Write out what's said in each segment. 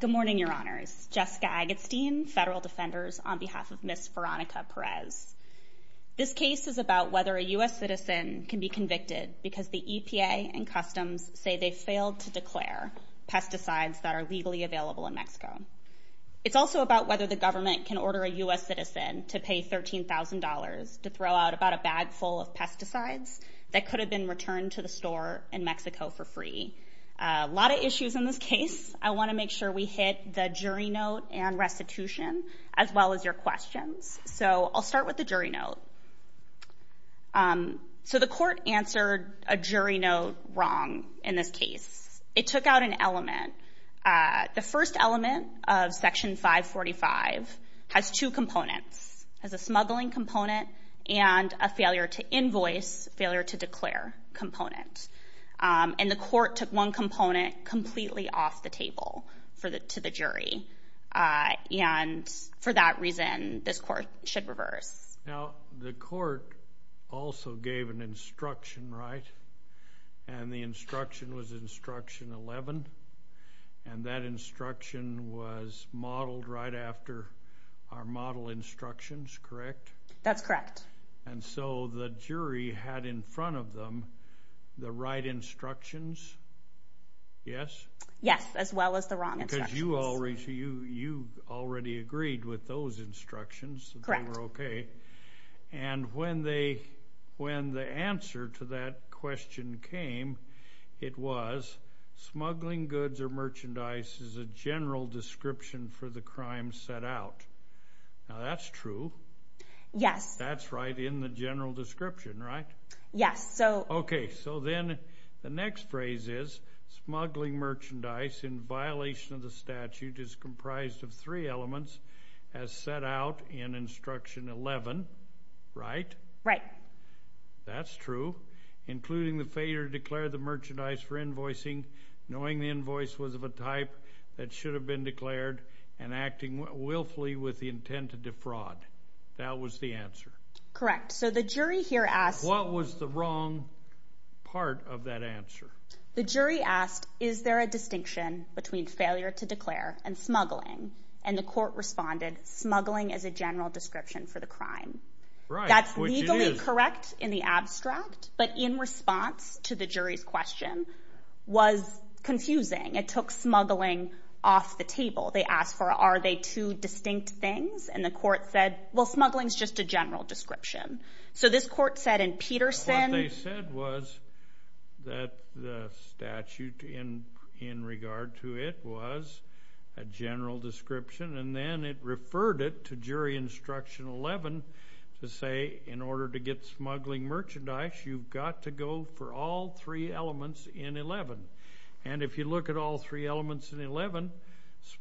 Good morning, your Honors. Jessica Agatstein, Federal Defenders, on behalf of Ms. Veronica Perez. This case is about whether a U.S. citizen can be convicted because the EPA and Customs say they failed to declare pesticides that are legally available in Mexico. It's also about whether the government can order a U.S. citizen to pay $13,000 to throw out about a bag full of pesticides that could have been returned to the store in Mexico for free. A lot of issues in this case. I want to make sure we hit the jury note and restitution as well as your questions. So I'll start with the jury note. So the court answered a jury note wrong in this case. It took out an element. The first element of Section 545 has two components. It has a smuggling component and a failure to invoice, failure to declare component. And the court took one component completely off the table to the jury. And for that reason, this court should reverse. Now, the court also gave an instruction, right? And the instruction was Instruction 11. And that instruction was modeled right after our model instructions, correct? That's correct. And so the jury had in front of them the right instructions, yes? Yes, as well as the wrong instructions. Because you already agreed with those instructions. Correct. And when the answer to that question came, it was smuggling goods or merchandise is a general description for the crime set out. Now, that's true. Yes. That's right in the general statute is comprised of three elements as set out in Instruction 11, right? Right. That's true, including the failure to declare the merchandise for invoicing, knowing the invoice was of a type that should have been declared, and acting willfully with the intent to defraud. That was the answer. Correct. So the jury here asked... What was the wrong part of that answer? The jury asked, is there a distinction between failure to declare and smuggling? And the court responded, smuggling is a general description for the crime. That's legally correct in the abstract, but in response to the jury's question was confusing. It took smuggling off the table. They asked for, are they two distinct things? And the court said, well, smuggling is just a in regard to it was a general description. And then it referred it to jury Instruction 11 to say, in order to get smuggling merchandise, you've got to go for all three elements in 11. And if you look at all three elements in 11,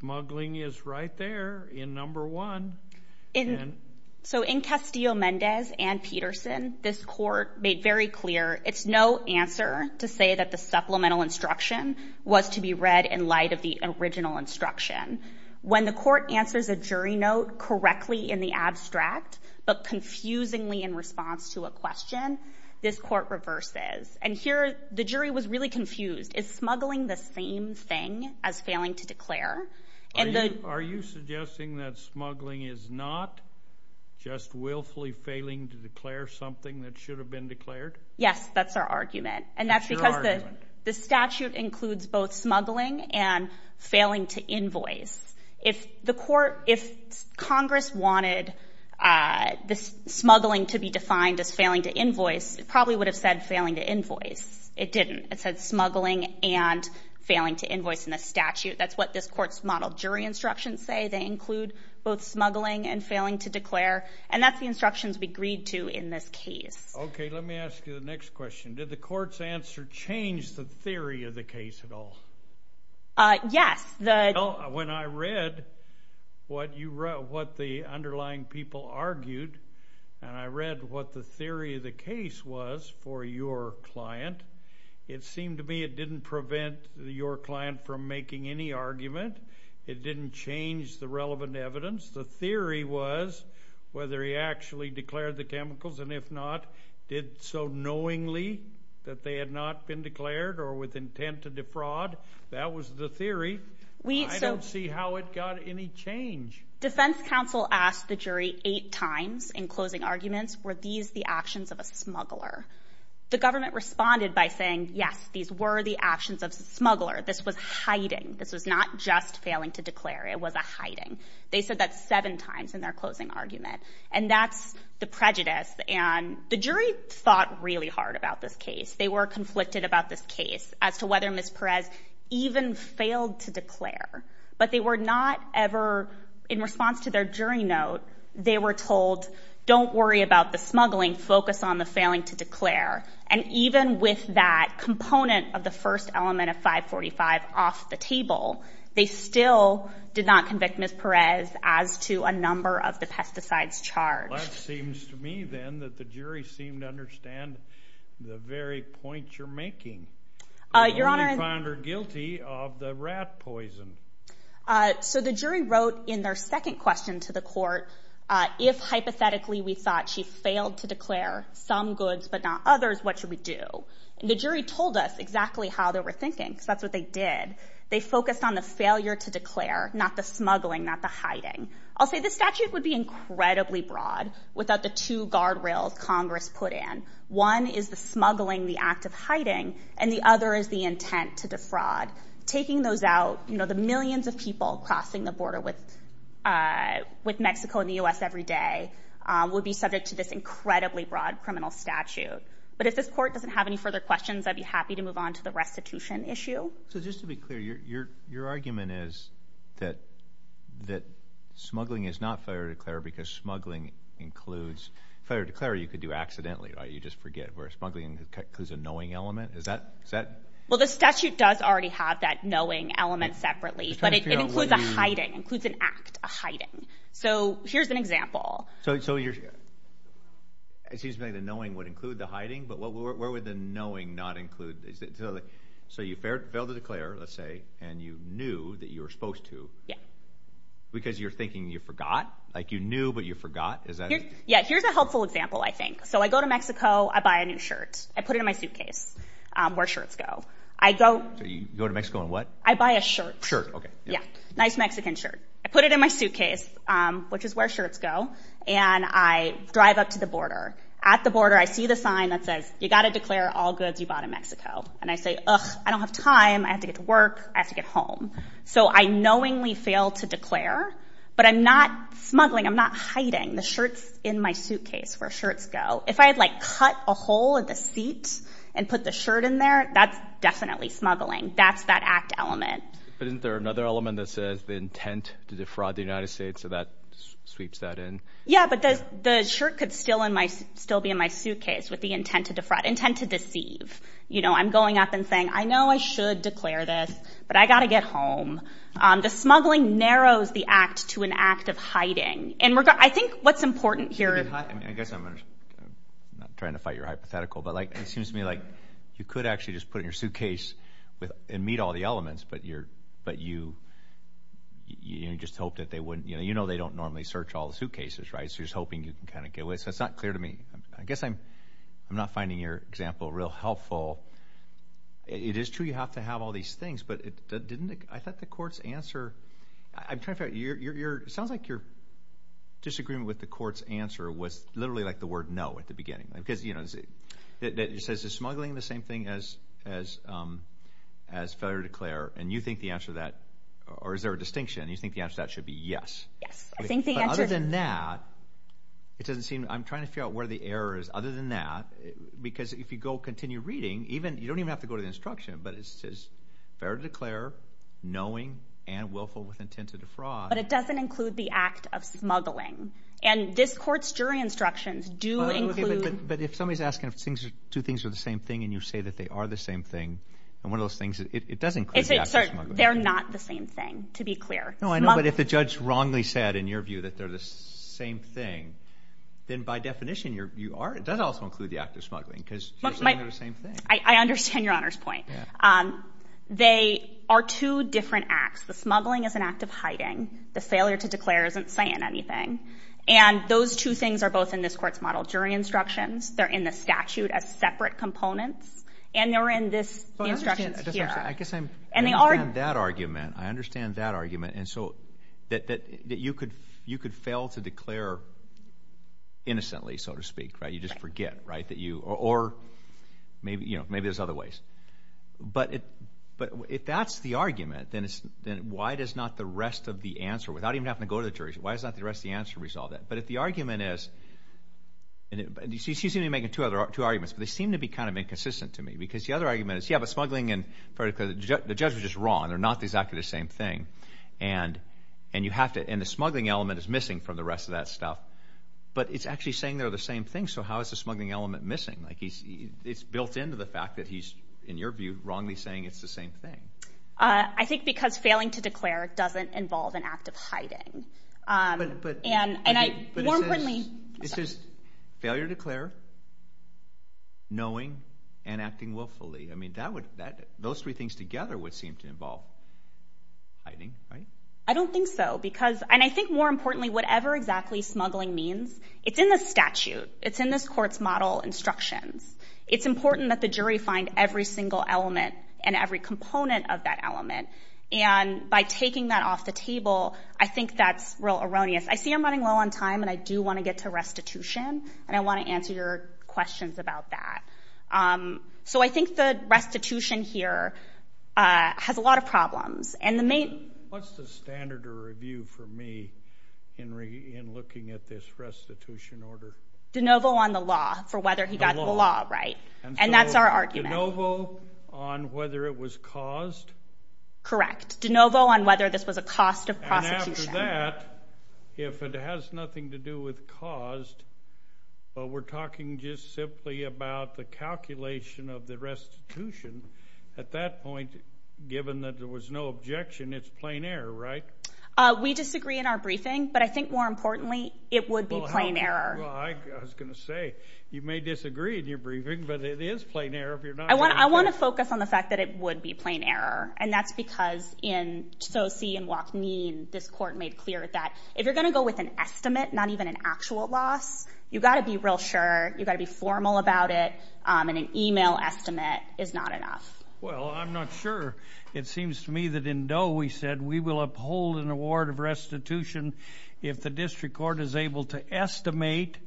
smuggling is right there in number one. So in Castillo-Mendez and Peterson, this court made very clear it's no answer to say that the supplemental instruction was to be read in light of the original instruction. When the court answers a jury note correctly in the abstract, but confusingly in response to a question, this court reverses. And here, the jury was really confused. Is smuggling the same thing as failing to declare? Are you suggesting that smuggling is not just willfully failing to declare something that should have been declared? Yes, that's our argument. And that's because the statute includes both smuggling and failing to invoice. If the court, if Congress wanted this smuggling to be defined as failing to invoice, it probably would have said failing to invoice. It didn't. It said jury instructions say they include both smuggling and failing to declare. And that's the instructions we agreed to in this case. Okay, let me ask you the next question. Did the court's answer change the theory of the case at all? Yes. When I read what you wrote, what the underlying people argued, and I read what the theory of the case was for your client, it seemed to me it didn't prevent your client from making any argument. It didn't change the relevant evidence. The theory was whether he actually declared the chemicals, and if not, did so knowingly that they had not been declared or with intent to defraud. That was the theory. I don't see how it got any change. Defense counsel asked the jury eight times in closing arguments, were these the actions of smuggler? The government responded by saying, yes, these were the actions of smuggler. This was hiding. This was not just failing to declare. It was a hiding. They said that seven times in their closing argument. And that's the prejudice. And the jury thought really hard about this case. They were conflicted about this case as to whether Ms. Perez even failed to declare. But they were not ever, in response to their jury note, they were told, don't worry about the smuggling. Focus on the failing to declare. And even with that component of the first element of 545 off the table, they still did not convict Ms. Perez as to a number of the pesticides charged. Well, it seems to me then that the jury seemed to understand the very point you're making. Your Honor. We found her guilty of the rat poison. So the jury wrote in their second question to the court, if hypothetically we thought she failed to declare some goods but not others, what should we do? And the jury told us exactly how they were thinking, because that's what they did. They focused on the failure to declare, not the smuggling, not the hiding. I'll say this statute would be incredibly broad without the two guardrails Congress put in. One is the smuggling, the act of hiding, and the other is the intent to defraud. Taking those out, you know, the millions of people crossing the border with Mexico and the U.S. every day would be subject to this incredibly broad criminal statute. But if this court doesn't have any further questions, I'd be happy to move on to the restitution issue. So just to be clear, your argument is that smuggling is not failure to declare because smuggling includes failure to declare, you could do accidentally, right? You just forget, whereas smuggling includes a knowing element? Is that? Well, the statute does already have that knowing element separately, but it includes a hiding, includes an act, a hiding. So here's an example. So it seems to me the knowing would include the hiding, but where would the knowing not include? So you failed to declare, let's say, and you knew that you were supposed to, because you're thinking you forgot, like you knew, but you forgot? Is that it? Yeah, here's a helpful example, I think. So I go to Mexico, I buy a new shirt. I put it in my suitcase, where shirts go. So you go to Mexico and what? I buy a shirt. Shirt, okay. Yeah, nice Mexican shirt. I put it in my suitcase, which is where shirts go. And I drive up to the border. At the border, I see the sign that says, you got to declare all goods you bought in Mexico. And I say, I don't have time, I have to get to work, I have to get home. So I knowingly fail to declare. But I'm not smuggling, I'm not hiding the shirts in my suitcase where shirts go. If I had like cut a hole in the seat, and put the shirt in there, that's definitely smuggling. That's that act element. But isn't there another element that says the intent to defraud the United States? So that sweeps that in? Yeah, but the shirt could still be in my suitcase with the intent to defraud, intent to deceive. You know, I'm going up and saying, I know I should declare this, but I got to get home. The smuggling narrows the act to an act of hiding. And I think what's important here... I guess I'm not trying to fight your hypothetical. But like, it seems to me like you could actually just put your shirt in your suitcase, and meet all the elements. But you just hope that they wouldn't, you know, they don't normally search all the suitcases, right? So you're just hoping you can kind of get away. So it's not clear to me. I guess I'm not finding your example real helpful. It is true, you have to have all these things. But didn't it, I thought the court's answer, I'm trying to figure out, it sounds like your disagreement with the court's answer was literally like the word no at the beginning. Because you know, it says is smuggling the same thing as failure to declare? And you think the answer to that, or is there a distinction? You think the answer to that should be yes. Yes. I think the answer... But other than that, it doesn't seem, I'm trying to figure out where the error is. Other than that, because if you go continue reading, even, you don't even have to go to the instruction, but it says, failure to declare, knowing, and willful with intent to defraud. But it doesn't include the act of smuggling. And this court's jury instructions do include... But if somebody's asking if two things are the same thing, and you say that they are the same thing, and one of those things, it does include the act of smuggling. They're not the same thing, to be clear. No, I know, but if the judge wrongly said, in your view, that they're the same thing, then by definition, you are, it does also include the act of smuggling, because you're saying they're the same thing. I understand Your Honor's point. They are two different acts. The smuggling is an act of hiding. The failure to declare isn't saying anything. And those two things are both in this court's model. Jury instructions, they're in the statute as well. And they're in this instruction here. I guess I understand that argument. I understand that argument. And so, that you could fail to declare innocently, so to speak, right? You just forget, right? Or maybe there's other ways. But if that's the argument, then why does not the rest of the answer, without even having to go to the jury, why does not the rest of the answer resolve that? But if the argument is, she's going to be making two arguments, but they seem to be kind of inconsistent to me. Because the other argument is, yeah, but smuggling and failure to declare, the judge was just wrong. They're not exactly the same thing. And you have to, and the smuggling element is missing from the rest of that stuff. But it's actually saying they're the same thing. So how is the smuggling element missing? Like, it's built into the fact that he's, in your view, wrongly saying it's the same thing. I think because failing to declare doesn't involve an act of hiding. And I, more importantly. It's just failure to declare, knowing, and acting willfully. I mean, those three things together would seem to involve hiding, right? I don't think so. Because, and I think more importantly, whatever exactly smuggling means, it's in the statute. It's in this And by taking that off the table, I think that's real erroneous. I see I'm running low on time, and I do want to get to restitution. And I want to answer your questions about that. So I think the restitution here has a lot of problems. What's the standard of review for me, Henry, in looking at this restitution order? De novo on the law, for whether he got the law right. And that's our argument. De novo on whether it was caused? Correct. De novo on whether this was a cost of prosecution. And after that, if it has nothing to do with caused, but we're talking just simply about the calculation of the restitution, at that point, given that there was no objection, it's plain error, right? We disagree in our briefing, but I think more importantly, it would be plain error. Well, I was going to say, you may disagree in your briefing, but it is plain error. I want to focus on the fact that it would be plain error. And that's because in Tose and Wachneen, this court made clear that if you're going to go with an estimate, not even an actual loss, you've got to be real sure, you've got to be formal about it, and an email estimate is not enough. Well, I'm not sure. It seems to me that in Doe, we said we will uphold an award of restitution if the district court is able to estimate,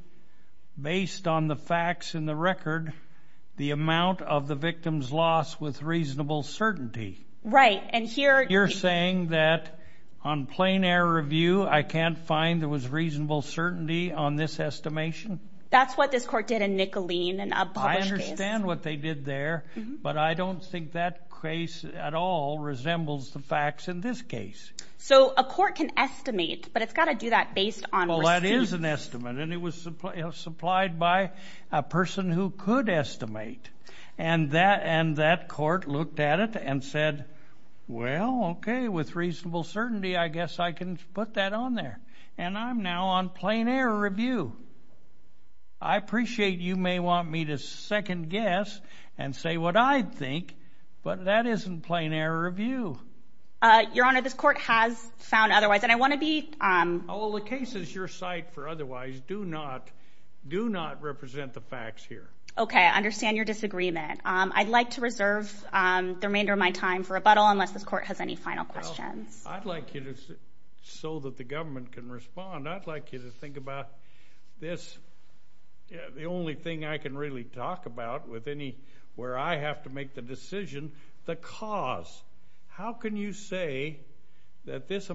based on the facts in the record, the amount of the victim's loss with reasonable certainty. Right, and here... You're saying that on plain error review, I can't find there was reasonable certainty on this estimation? That's what this court did in Nicolene, in a published case. I understand what they did there, but I don't think that case at all resembles the facts in this case. So a court can estimate, but it's got to do that based on... Well, that is an estimate, and it was supplied by a person who could estimate. And that court looked at it and said, well, okay, with reasonable certainty, I guess I can put that on there. And I'm now on plain error review. I appreciate you may want me to second guess and say what I think, but that isn't plain error review. Your Honor, this court has found otherwise, and I want to be... All the cases you cite for otherwise do not represent the facts here. Okay, I understand your disagreement. I'd like to reserve the remainder of my time for rebuttal unless this court has any final questions. I'd like you to, so that the government can respond, I'd like you to think about this, the only thing I can really talk about with any where I have to make the decision, the cause. How can you say that this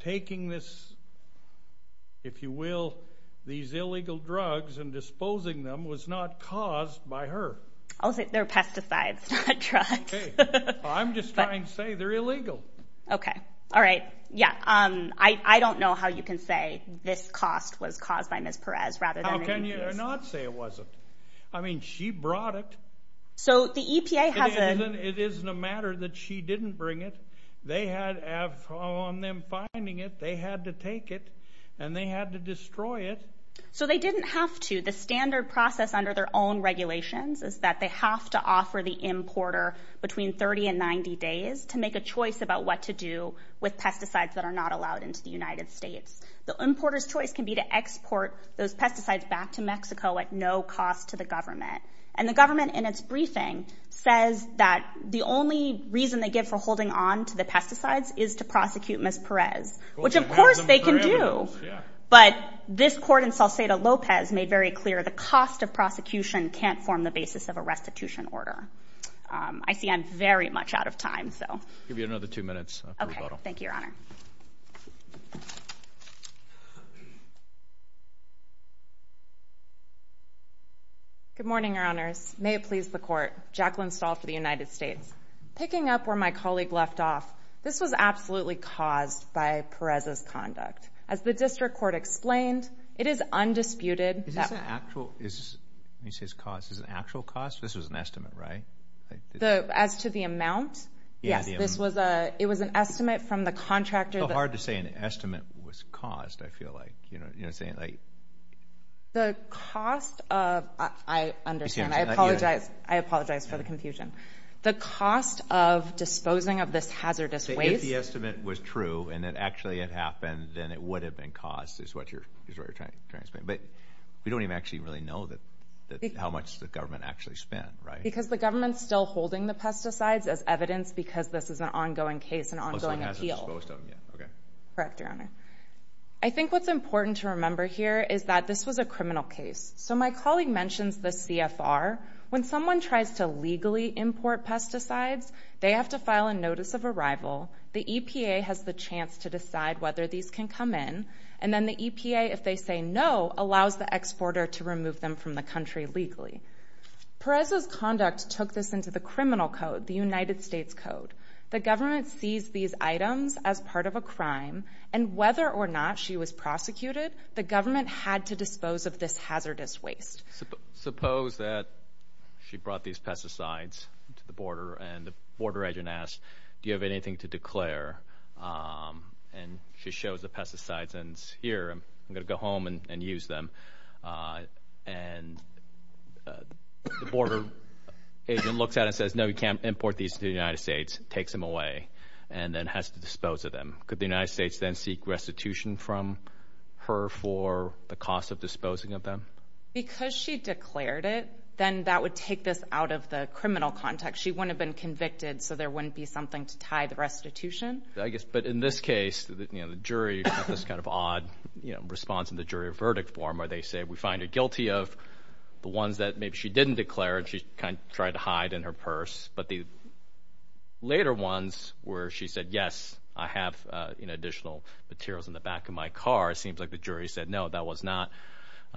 taking this, if you will, these illegal drugs and disposing them was not caused by her? I'll say they're pesticides, not drugs. I'm just trying to say they're illegal. Okay, all right. Yeah, I don't know how you can say this cost was caused by Ms. Perez rather than... How can you not say it wasn't? I mean, she brought it. So the EPA has a... It isn't a matter that she didn't bring it. They have, on them finding it, they had to take it, and they had to destroy it. So they didn't have to. The standard process under their own regulations is that they have to offer the importer between 30 and 90 days to make a choice about what to do with pesticides that are not allowed into the United States. The importer's choice can be to export those pesticides back to Mexico at no cost to the government. And the government, in its briefing, says that the only reason they give for holding on to the pesticides is to prosecute Ms. Perez, which, of course, they can do. But this court in Salcedo-Lopez made very clear the cost of prosecution can't form the basis of a restitution order. I see I'm very much out of time. I'll give you another two minutes for rebuttal. Okay, thank you, Your Honor. Thank you, Your Honor. Good morning, Your Honors. May it please the court. Jacqueline Stahl for the United States. Picking up where my colleague left off, this was absolutely caused by Perez's conduct. As the district court explained, it is undisputed that. Is this an actual cost? This was an estimate, right? As to the amount? Yes. It was an estimate from the contractor. It's so hard to say an estimate was caused, I feel like. The cost of, I understand. I apologize for the confusion. The cost of disposing of this hazardous waste. If the estimate was true and it actually had happened, then it would have been caused, is what you're trying to explain. But we don't even actually really know how much the government actually spent, right? Because the government's still holding the pesticides as evidence because this is an ongoing case, an ongoing appeal. Okay. Correct, Your Honor. I think what's important to remember here is that this was a criminal case. So my colleague mentions the CFR. When someone tries to legally import pesticides, they have to file a notice of arrival. The EPA has the chance to decide whether these can come in. And then the EPA, if they say no, allows the exporter to remove them from the country legally. Perez's conduct took this into the criminal code, the United States code. The government sees these items as part of a crime. And whether or not she was prosecuted, the government had to dispose of this hazardous waste. Suppose that she brought these pesticides to the border and the border agent asked, do you have anything to declare? And she shows the pesticides and is here, I'm going to go home and use them. And the border agent looks at it and says, no, you can't import these to the United States, takes them away, and then has to dispose of them. Could the United States then seek restitution from her for the cost of disposing of them? Because she declared it, then that would take this out of the criminal context. She wouldn't have been convicted, so there wouldn't be something to tie the restitution. But in this case, the jury got this kind of odd response in the jury verdict form where they say, we find her guilty of the ones that maybe she didn't declare and she tried to hide in her purse. But the later ones where she said, yes, I have additional materials in the back of my car, it seems like the jury said, no, that was not,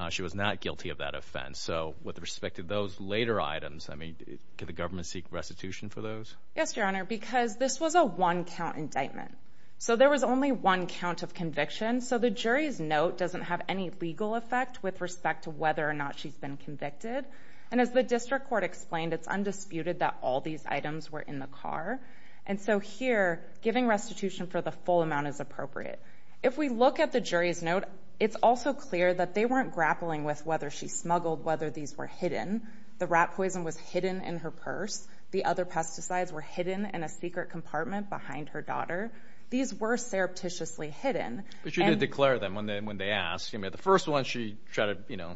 she was not guilty of that offense. So with respect to those later items, I mean, can the government seek restitution for those? Yes, Your Honor, because this was a one-count indictment. So there was only one count of conviction, so the jury's note doesn't have any legal effect with respect to whether or not she's been convicted. And as the district court explained, it's undisputed that all these items were in the car. And so here, giving restitution for the full amount is appropriate. If we look at the jury's note, it's also clear that they weren't grappling with whether she smuggled, whether these were hidden. The rat poison was hidden in her purse. The other pesticides were hidden in a secret compartment behind her daughter. These were surreptitiously hidden. But she did declare them when they asked. I mean, the first one, she tried to, you know,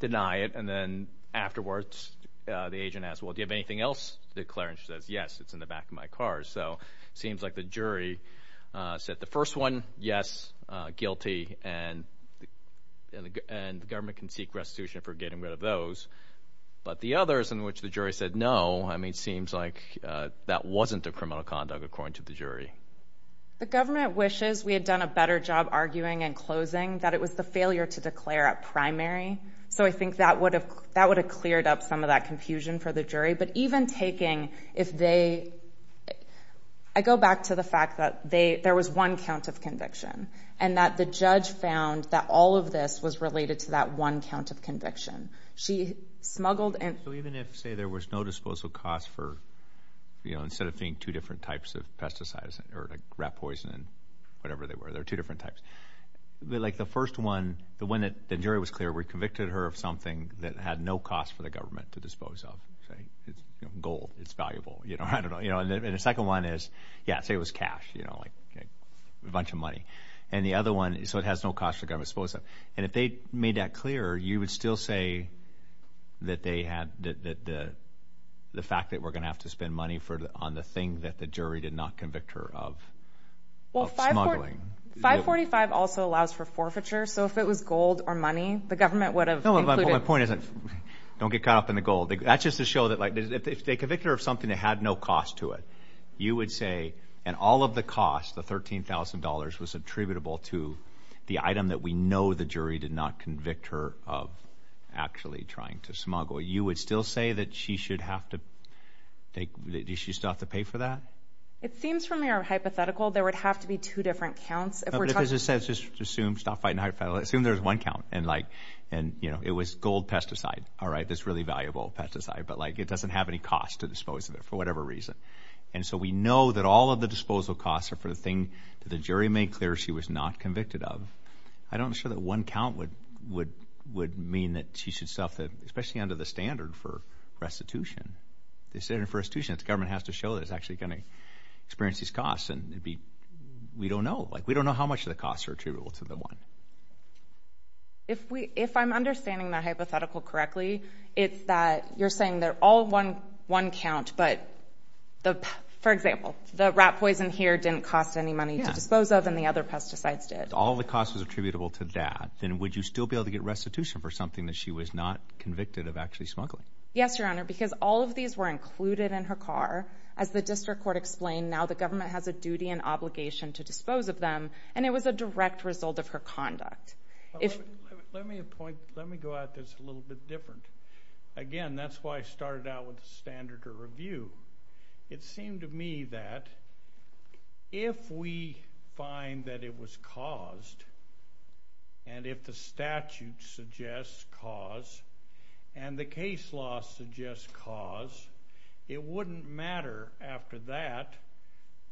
deny it. And then afterwards, the agent asked, well, do you have anything else to declare? And she says, yes, it's in the back of my car. So it seems like the jury said the first one, yes, guilty, and the government can seek restitution for getting rid of those. But the others in which the jury said no, I mean, it seems like that wasn't a criminal conduct, according to the jury. The government wishes we had done a better job arguing and closing that it was the failure to declare at primary. So I think that would have cleared up some of that confusion for the jury. But even taking if they – I go back to the fact that there was one count of conviction and that the judge found that all of this was related to that one count of conviction. She smuggled and – So even if, say, there was no disposal cost for, you know, instead of being two different types of pesticides or rat poison, whatever they were, there are two different types. Like the first one, the one that the jury was clear, we convicted her of something that had no cost for the government to dispose of. Gold is valuable. I don't know. And the second one is, yeah, say it was cash, you know, like a bunch of money. And the other one, so it has no cost for the government to dispose of. And if they made that clear, you would still say that they had the fact that we're going to have to spend money on the thing that the jury did not convict her of smuggling. Well, 545 also allows for forfeiture. So if it was gold or money, the government would have included – No, but my point is don't get caught up in the gold. That's just to show that, like, if they convict her of something that had no cost to it, you would say, and all of the cost, the $13,000, was attributable to the item that we know the jury did not convict her of actually trying to smuggle. You would still say that she should have to take – does she still have to pay for that? It seems from your hypothetical there would have to be two different counts. If we're talking – No, but as I said, just assume – stop fighting hypotheticals. Assume there's one count and, like, you know, it was gold pesticide. All right, that's really valuable pesticide, but, like, it doesn't have any cost to dispose of it for whatever reason. And so we know that all of the disposal costs are for the thing that the jury made clear she was not convicted of. I'm not sure that one count would mean that she should suffer, especially under the standard for restitution. The standard for restitution, the government has to show that it's actually going to experience these costs. And we don't know. Like, we don't know how much of the costs are attributable to the one. If I'm understanding that hypothetical correctly, it's that you're saying they're all one count, but, for example, the rat poison here didn't cost any money to dispose of and the other pesticides did. If all the cost was attributable to that, then would you still be able to get restitution for something that she was not convicted of actually smuggling? Yes, Your Honor, because all of these were included in her car. As the district court explained, now the government has a duty and obligation to dispose of them, and it was a direct result of her conduct. Let me go at this a little bit different. Again, that's why I started out with the standard of review. It seemed to me that if we find that it was caused, and if the statute suggests cause, and the case law suggests cause, it wouldn't matter after that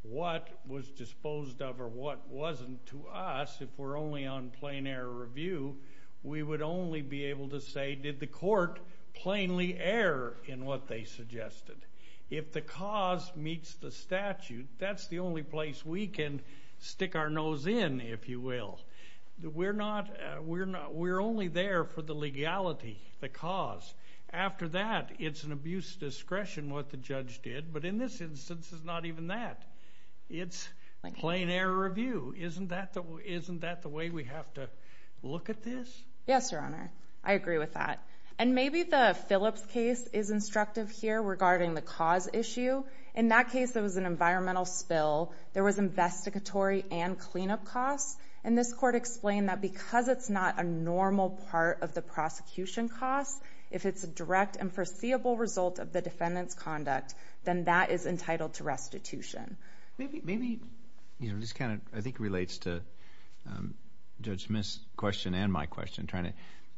what was disposed of or what wasn't to us if we're only on plain error review. We would only be able to say, did the court plainly err in what they suggested? If the cause meets the statute, that's the only place we can stick our nose in, if you will. We're only there for the legality, the cause. After that, it's an abuse of discretion what the judge did, but in this instance, it's not even that. It's plain error review. Isn't that the way we have to look at this? Yes, Your Honor. I agree with that. And maybe the Phillips case is instructive here regarding the cause issue. In that case, it was an environmental spill. There was investigatory and cleanup costs, and this court explained that because it's not a normal part of the prosecution cost, if it's a direct and foreseeable result of the defendant's conduct, then that is entitled to restitution. Maybe this kind of, I think, relates to Judge Smith's question and my question,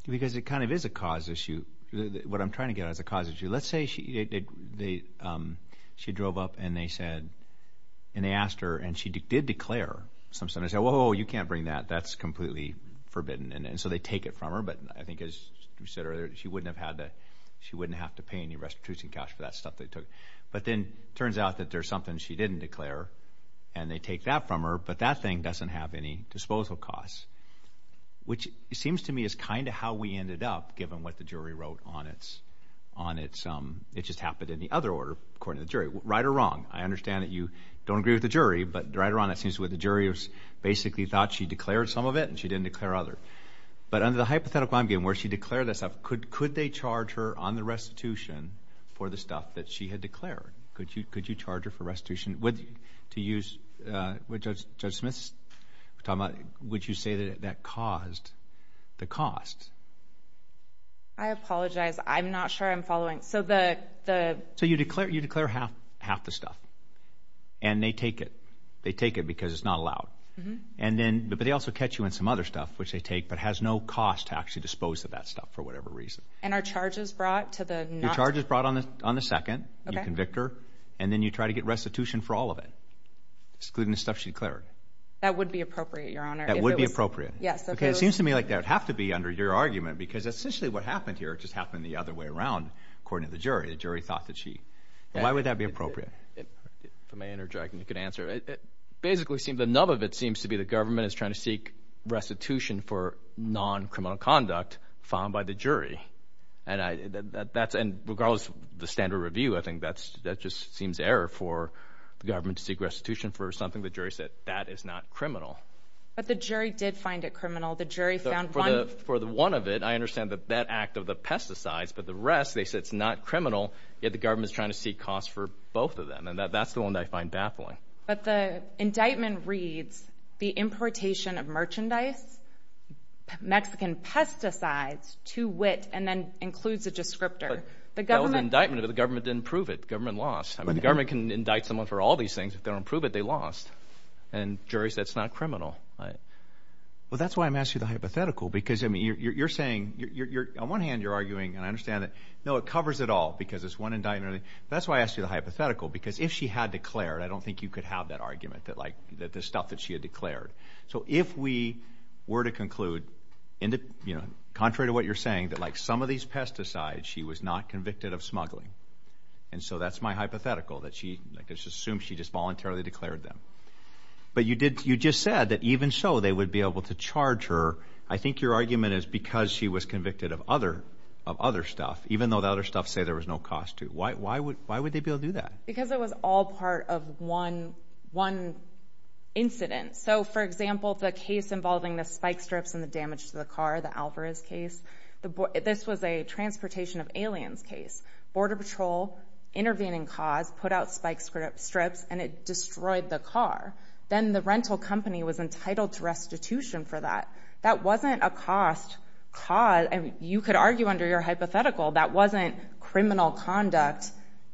because it kind of is a cause issue. What I'm trying to get at is a cause issue. Let's say she drove up and they asked her, and she did declare. Some senators say, oh, you can't bring that. That's completely forbidden, and so they take it from her. But I think, as you said earlier, she wouldn't have to pay any restitution cash for that stuff they took. But then it turns out that there's something she didn't declare, and they take that from her, but that thing doesn't have any disposal costs, which seems to me is kind of how we ended up, given what the jury wrote on it. It just happened in the other order, according to the jury, right or wrong. I understand that you don't agree with the jury, but right or wrong, it seems that the jury basically thought she declared some of it and she didn't declare others. But under the hypothetical I'm giving, where she declared that stuff, could they charge her on the restitution for the stuff that she had declared? Could you charge her for restitution? To use what Judge Smith's talking about, would you say that that caused the cost? I apologize. I'm not sure I'm following. So you declare half the stuff, and they take it. They take it because it's not allowed. But they also catch you in some other stuff, which they take, but has no cost to actually dispose of that stuff for whatever reason. And are charges brought to the not to? Your charge is brought on the second. You convict her, and then you try to get restitution for all of it, excluding the stuff she declared. That would be appropriate, Your Honor. That would be appropriate? Yes. Okay, it seems to me like that would have to be under your argument because essentially what happened here just happened the other way around, according to the jury. The jury thought that she – why would that be appropriate? If I may interject and you could answer. Basically, the nub of it seems to be the government is trying to seek restitution for non-criminal conduct filed by the jury. And regardless of the standard review, I think that just seems error for the government to seek restitution for something the jury said that is not criminal. But the jury did find it criminal. The jury found one. For the one of it, I understand that act of the pesticides. But the rest, they said it's not criminal, yet the government is trying to seek costs for both of them. And that's the one that I find baffling. But the indictment reads the importation of merchandise, Mexican pesticides, to wit and then includes a descriptor. That was an indictment, but the government didn't prove it. The government lost. I mean, the government can indict someone for all these things. If they don't prove it, they lost. And the jury said it's not criminal. Well, that's why I'm asking the hypothetical because, I mean, you're saying – on one hand, you're arguing, and I understand it, no, it covers it all because it's one indictment. But that's why I ask you the hypothetical because if she had declared, I don't think you could have that argument that, like, the stuff that she had declared. So if we were to conclude, contrary to what you're saying, that, like, some of these pesticides she was not convicted of smuggling, and so that's my hypothetical, that she, like, let's assume she just voluntarily declared them. But you just said that even so they would be able to charge her. I think your argument is because she was convicted of other stuff, even though the other stuff say there was no cost to. Why would they be able to do that? Because it was all part of one incident. So, for example, the case involving the spike strips and the damage to the car, the Alvarez case, this was a transportation of aliens case. Border Patrol intervened in cause, put out spike strips, and it destroyed the car. Then the rental company was entitled to restitution for that. That wasn't a cost cause. You could argue under your hypothetical that wasn't criminal conduct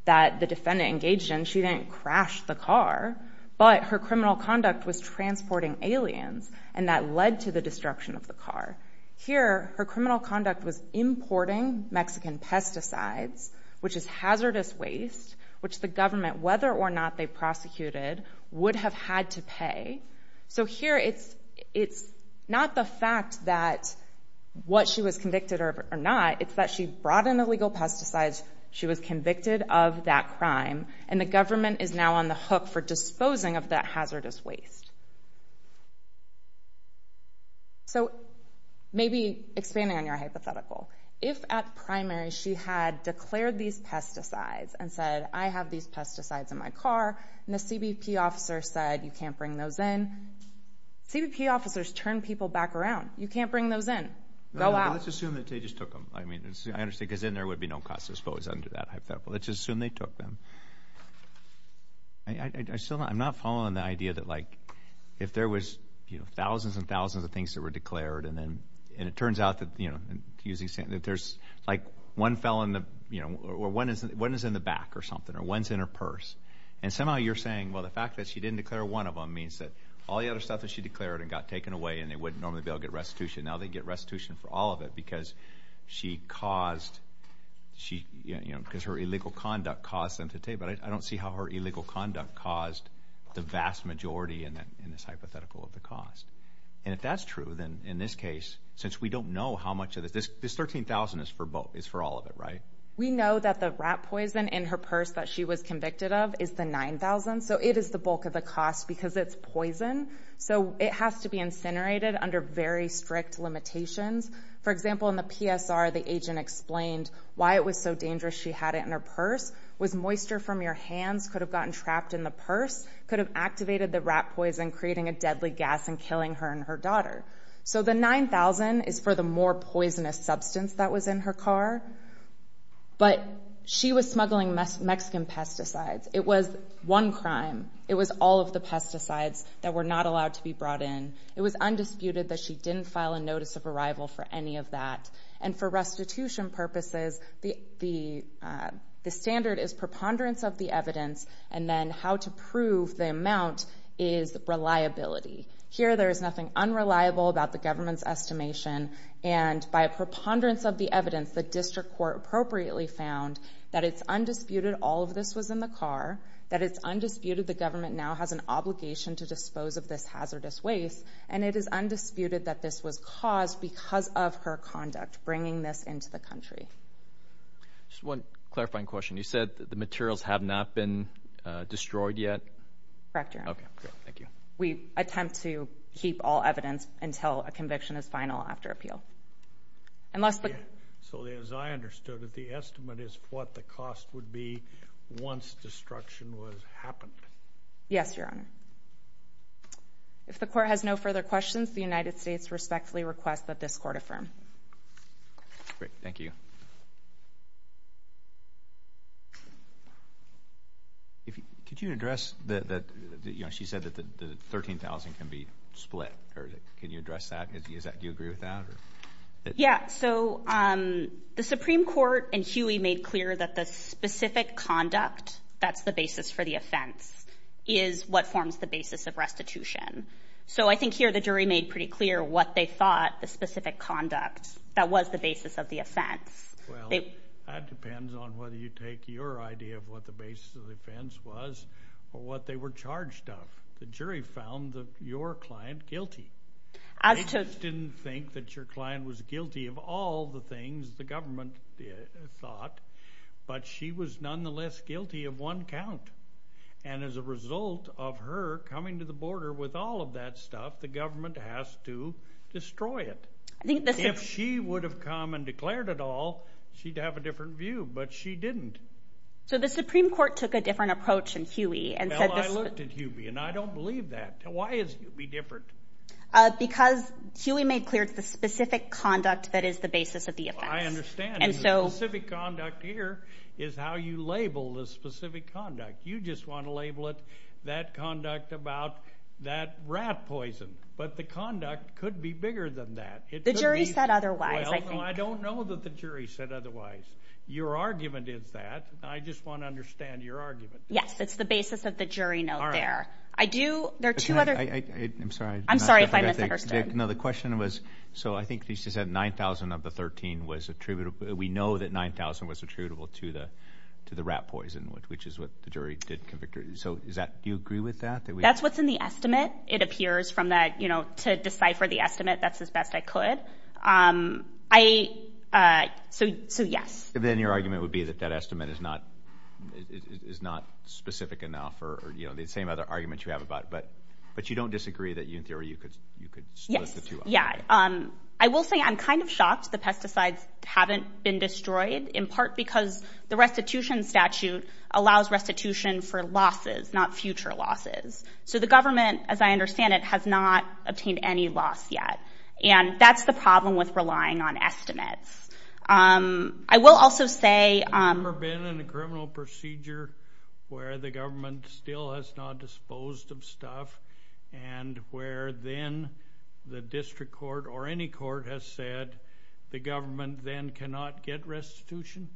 that the defendant engaged in. She didn't crash the car. But her criminal conduct was transporting aliens, and that led to the destruction of the car. Here her criminal conduct was importing Mexican pesticides, which is hazardous waste, which the government, whether or not they prosecuted, would have had to pay. So here it's not the fact that what she was convicted of or not, it's that she brought in illegal pesticides, she was convicted of that crime, and the government is now on the hook for disposing of that hazardous waste. So maybe expanding on your hypothetical, if at primary she had declared these pesticides and said, I have these pesticides in my car, and the CBP officer said, you can't bring those in, CBP officers turn people back around. You can't bring those in. Go out. Let's assume that they just took them. I understand because then there would be no cost to dispose under that hypothetical. Let's just assume they took them. I'm not following the idea that, like, if there was thousands and thousands of things that were declared, and it turns out that there's, like, one fell in the, you know, or one is in the back or something, or one's in her purse, and somehow you're saying, well, the fact that she didn't declare one of them means that all the other stuff that she declared and got taken away and they wouldn't normally be able to get restitution. Now they get restitution for all of it because she caused, you know, because her illegal conduct caused them to take them. But I don't see how her illegal conduct caused the vast majority in this hypothetical of the cost. And if that's true, then in this case, since we don't know how much of this, this $13,000 is for all of it, right? We know that the rat poison in her purse that she was convicted of is the $9,000. So it is the bulk of the cost because it's poison. So it has to be incinerated under very strict limitations. For example, in the PSR, the agent explained why it was so dangerous she had it in her purse. Could have gotten trapped in the purse. Could have activated the rat poison, creating a deadly gas and killing her and her daughter. So the $9,000 is for the more poisonous substance that was in her car. But she was smuggling Mexican pesticides. It was one crime. It was all of the pesticides that were not allowed to be brought in. It was undisputed that she didn't file a notice of arrival for any of that. And for restitution purposes, the standard is preponderance of the evidence and then how to prove the amount is reliability. Here, there is nothing unreliable about the government's estimation. And by preponderance of the evidence, the district court appropriately found that it's undisputed all of this was in the car, that it's undisputed the government now has an obligation to dispose of this hazardous waste, and it is undisputed that this was caused because of her conduct bringing this into the country. Just one clarifying question. You said the materials have not been destroyed yet? Correct, Your Honor. Okay, good. Thank you. We attempt to keep all evidence until a conviction is final after appeal. So as I understood it, the estimate is what the cost would be once destruction would happen. Yes, Your Honor. If the court has no further questions, the United States respectfully requests that this court affirm. Great. Thank you. Could you address that she said that the $13,000 can be split? Can you address that? Do you agree with that? Yeah. So the Supreme Court and Huey made clear that the specific conduct, that's the basis for the offense, is what forms the basis of restitution. So I think here the jury made pretty clear what they thought the specific conduct that was the basis of the offense. Well, that depends on whether you take your idea of what the basis of the offense was or what they were charged of. The jury found your client guilty. I just didn't think that your client was guilty of all the things the government thought, but she was nonetheless guilty of one count. And as a result of her coming to the border with all of that stuff, the government has to destroy it. If she would have come and declared it all, she'd have a different view. But she didn't. So the Supreme Court took a different approach in Huey and said this. Well, I looked at Huey and I don't believe that. Why is Huey different? Because Huey made clear it's the specific conduct that is the basis of the offense. I understand. The specific conduct here is how you label the specific conduct. You just want to label it that conduct about that rat poison. But the conduct could be bigger than that. The jury said otherwise. I don't know that the jury said otherwise. Your argument is that. I just want to understand your argument. Yes, it's the basis of the jury note there. All right. I do. There are two other. I'm sorry. I'm sorry if I misunderstood. No, the question was, so I think she said 9,000 of the 13 was attributable. We know that 9,000 was attributable to the rat poison, which is what the jury did convict her. So do you agree with that? That's what's in the estimate. It appears from that, you know, to decipher the estimate, that's as best I could. So, yes. Then your argument would be that that estimate is not specific enough or, you know, the same other arguments you have about it. But you don't disagree that in theory you could split the two up? Yes. Yeah. I will say I'm kind of shocked the pesticides haven't been destroyed, in part because the restitution statute allows restitution for losses, not future losses. So the government, as I understand it, has not obtained any loss yet. And that's the problem with relying on estimates. I will also say. Have you ever been in a criminal procedure where the government still has not disposed of stuff and where then the district court or any court has said the government then cannot get restitution?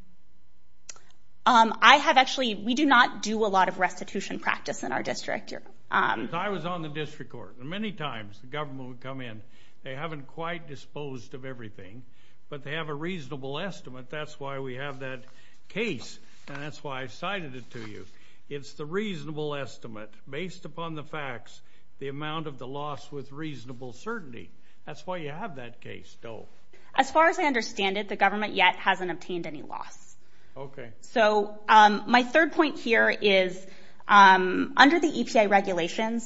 I have actually. We do not do a lot of restitution practice in our district. I was on the district court. Many times the government would come in. They haven't quite disposed of everything, but they have a reasonable estimate. That's why we have that case, and that's why I cited it to you. It's the reasonable estimate based upon the facts, the amount of the loss with reasonable certainty. That's why you have that case, though. As far as I understand it, the government yet hasn't obtained any loss. Okay. So my third point here is under the EPA regulations,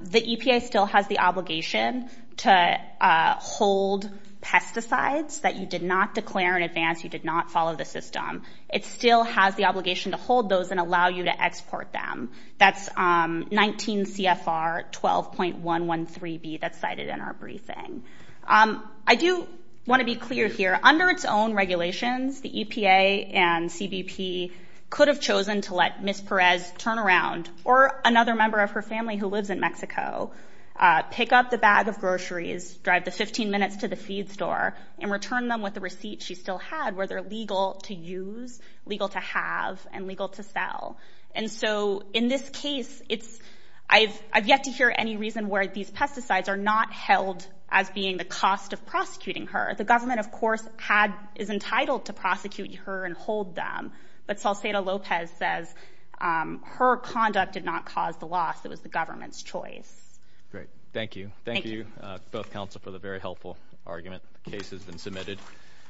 the EPA still has the obligation to hold pesticides that you did not declare in advance, you did not follow the system. It still has the obligation to hold those and allow you to export them. That's 19 CFR 12.113B that's cited in our briefing. I do want to be clear here. Under its own regulations, the EPA and CBP could have chosen to let Ms. Perez turn around or another member of her family who lives in Mexico, pick up the bag of groceries, drive the 15 minutes to the feed store, and return them with the receipt she still had where they're legal to use, legal to have, and legal to sell. And so in this case, I've yet to hear any reason where these pesticides are not held as being the cost of prosecuting her. The government, of course, is entitled to prosecute her and hold them, but Salcedo-Lopez says her conduct did not cause the loss. It was the government's choice. Great. Thank you. Thank you, both counsel, for the very helpful argument. The case has been submitted.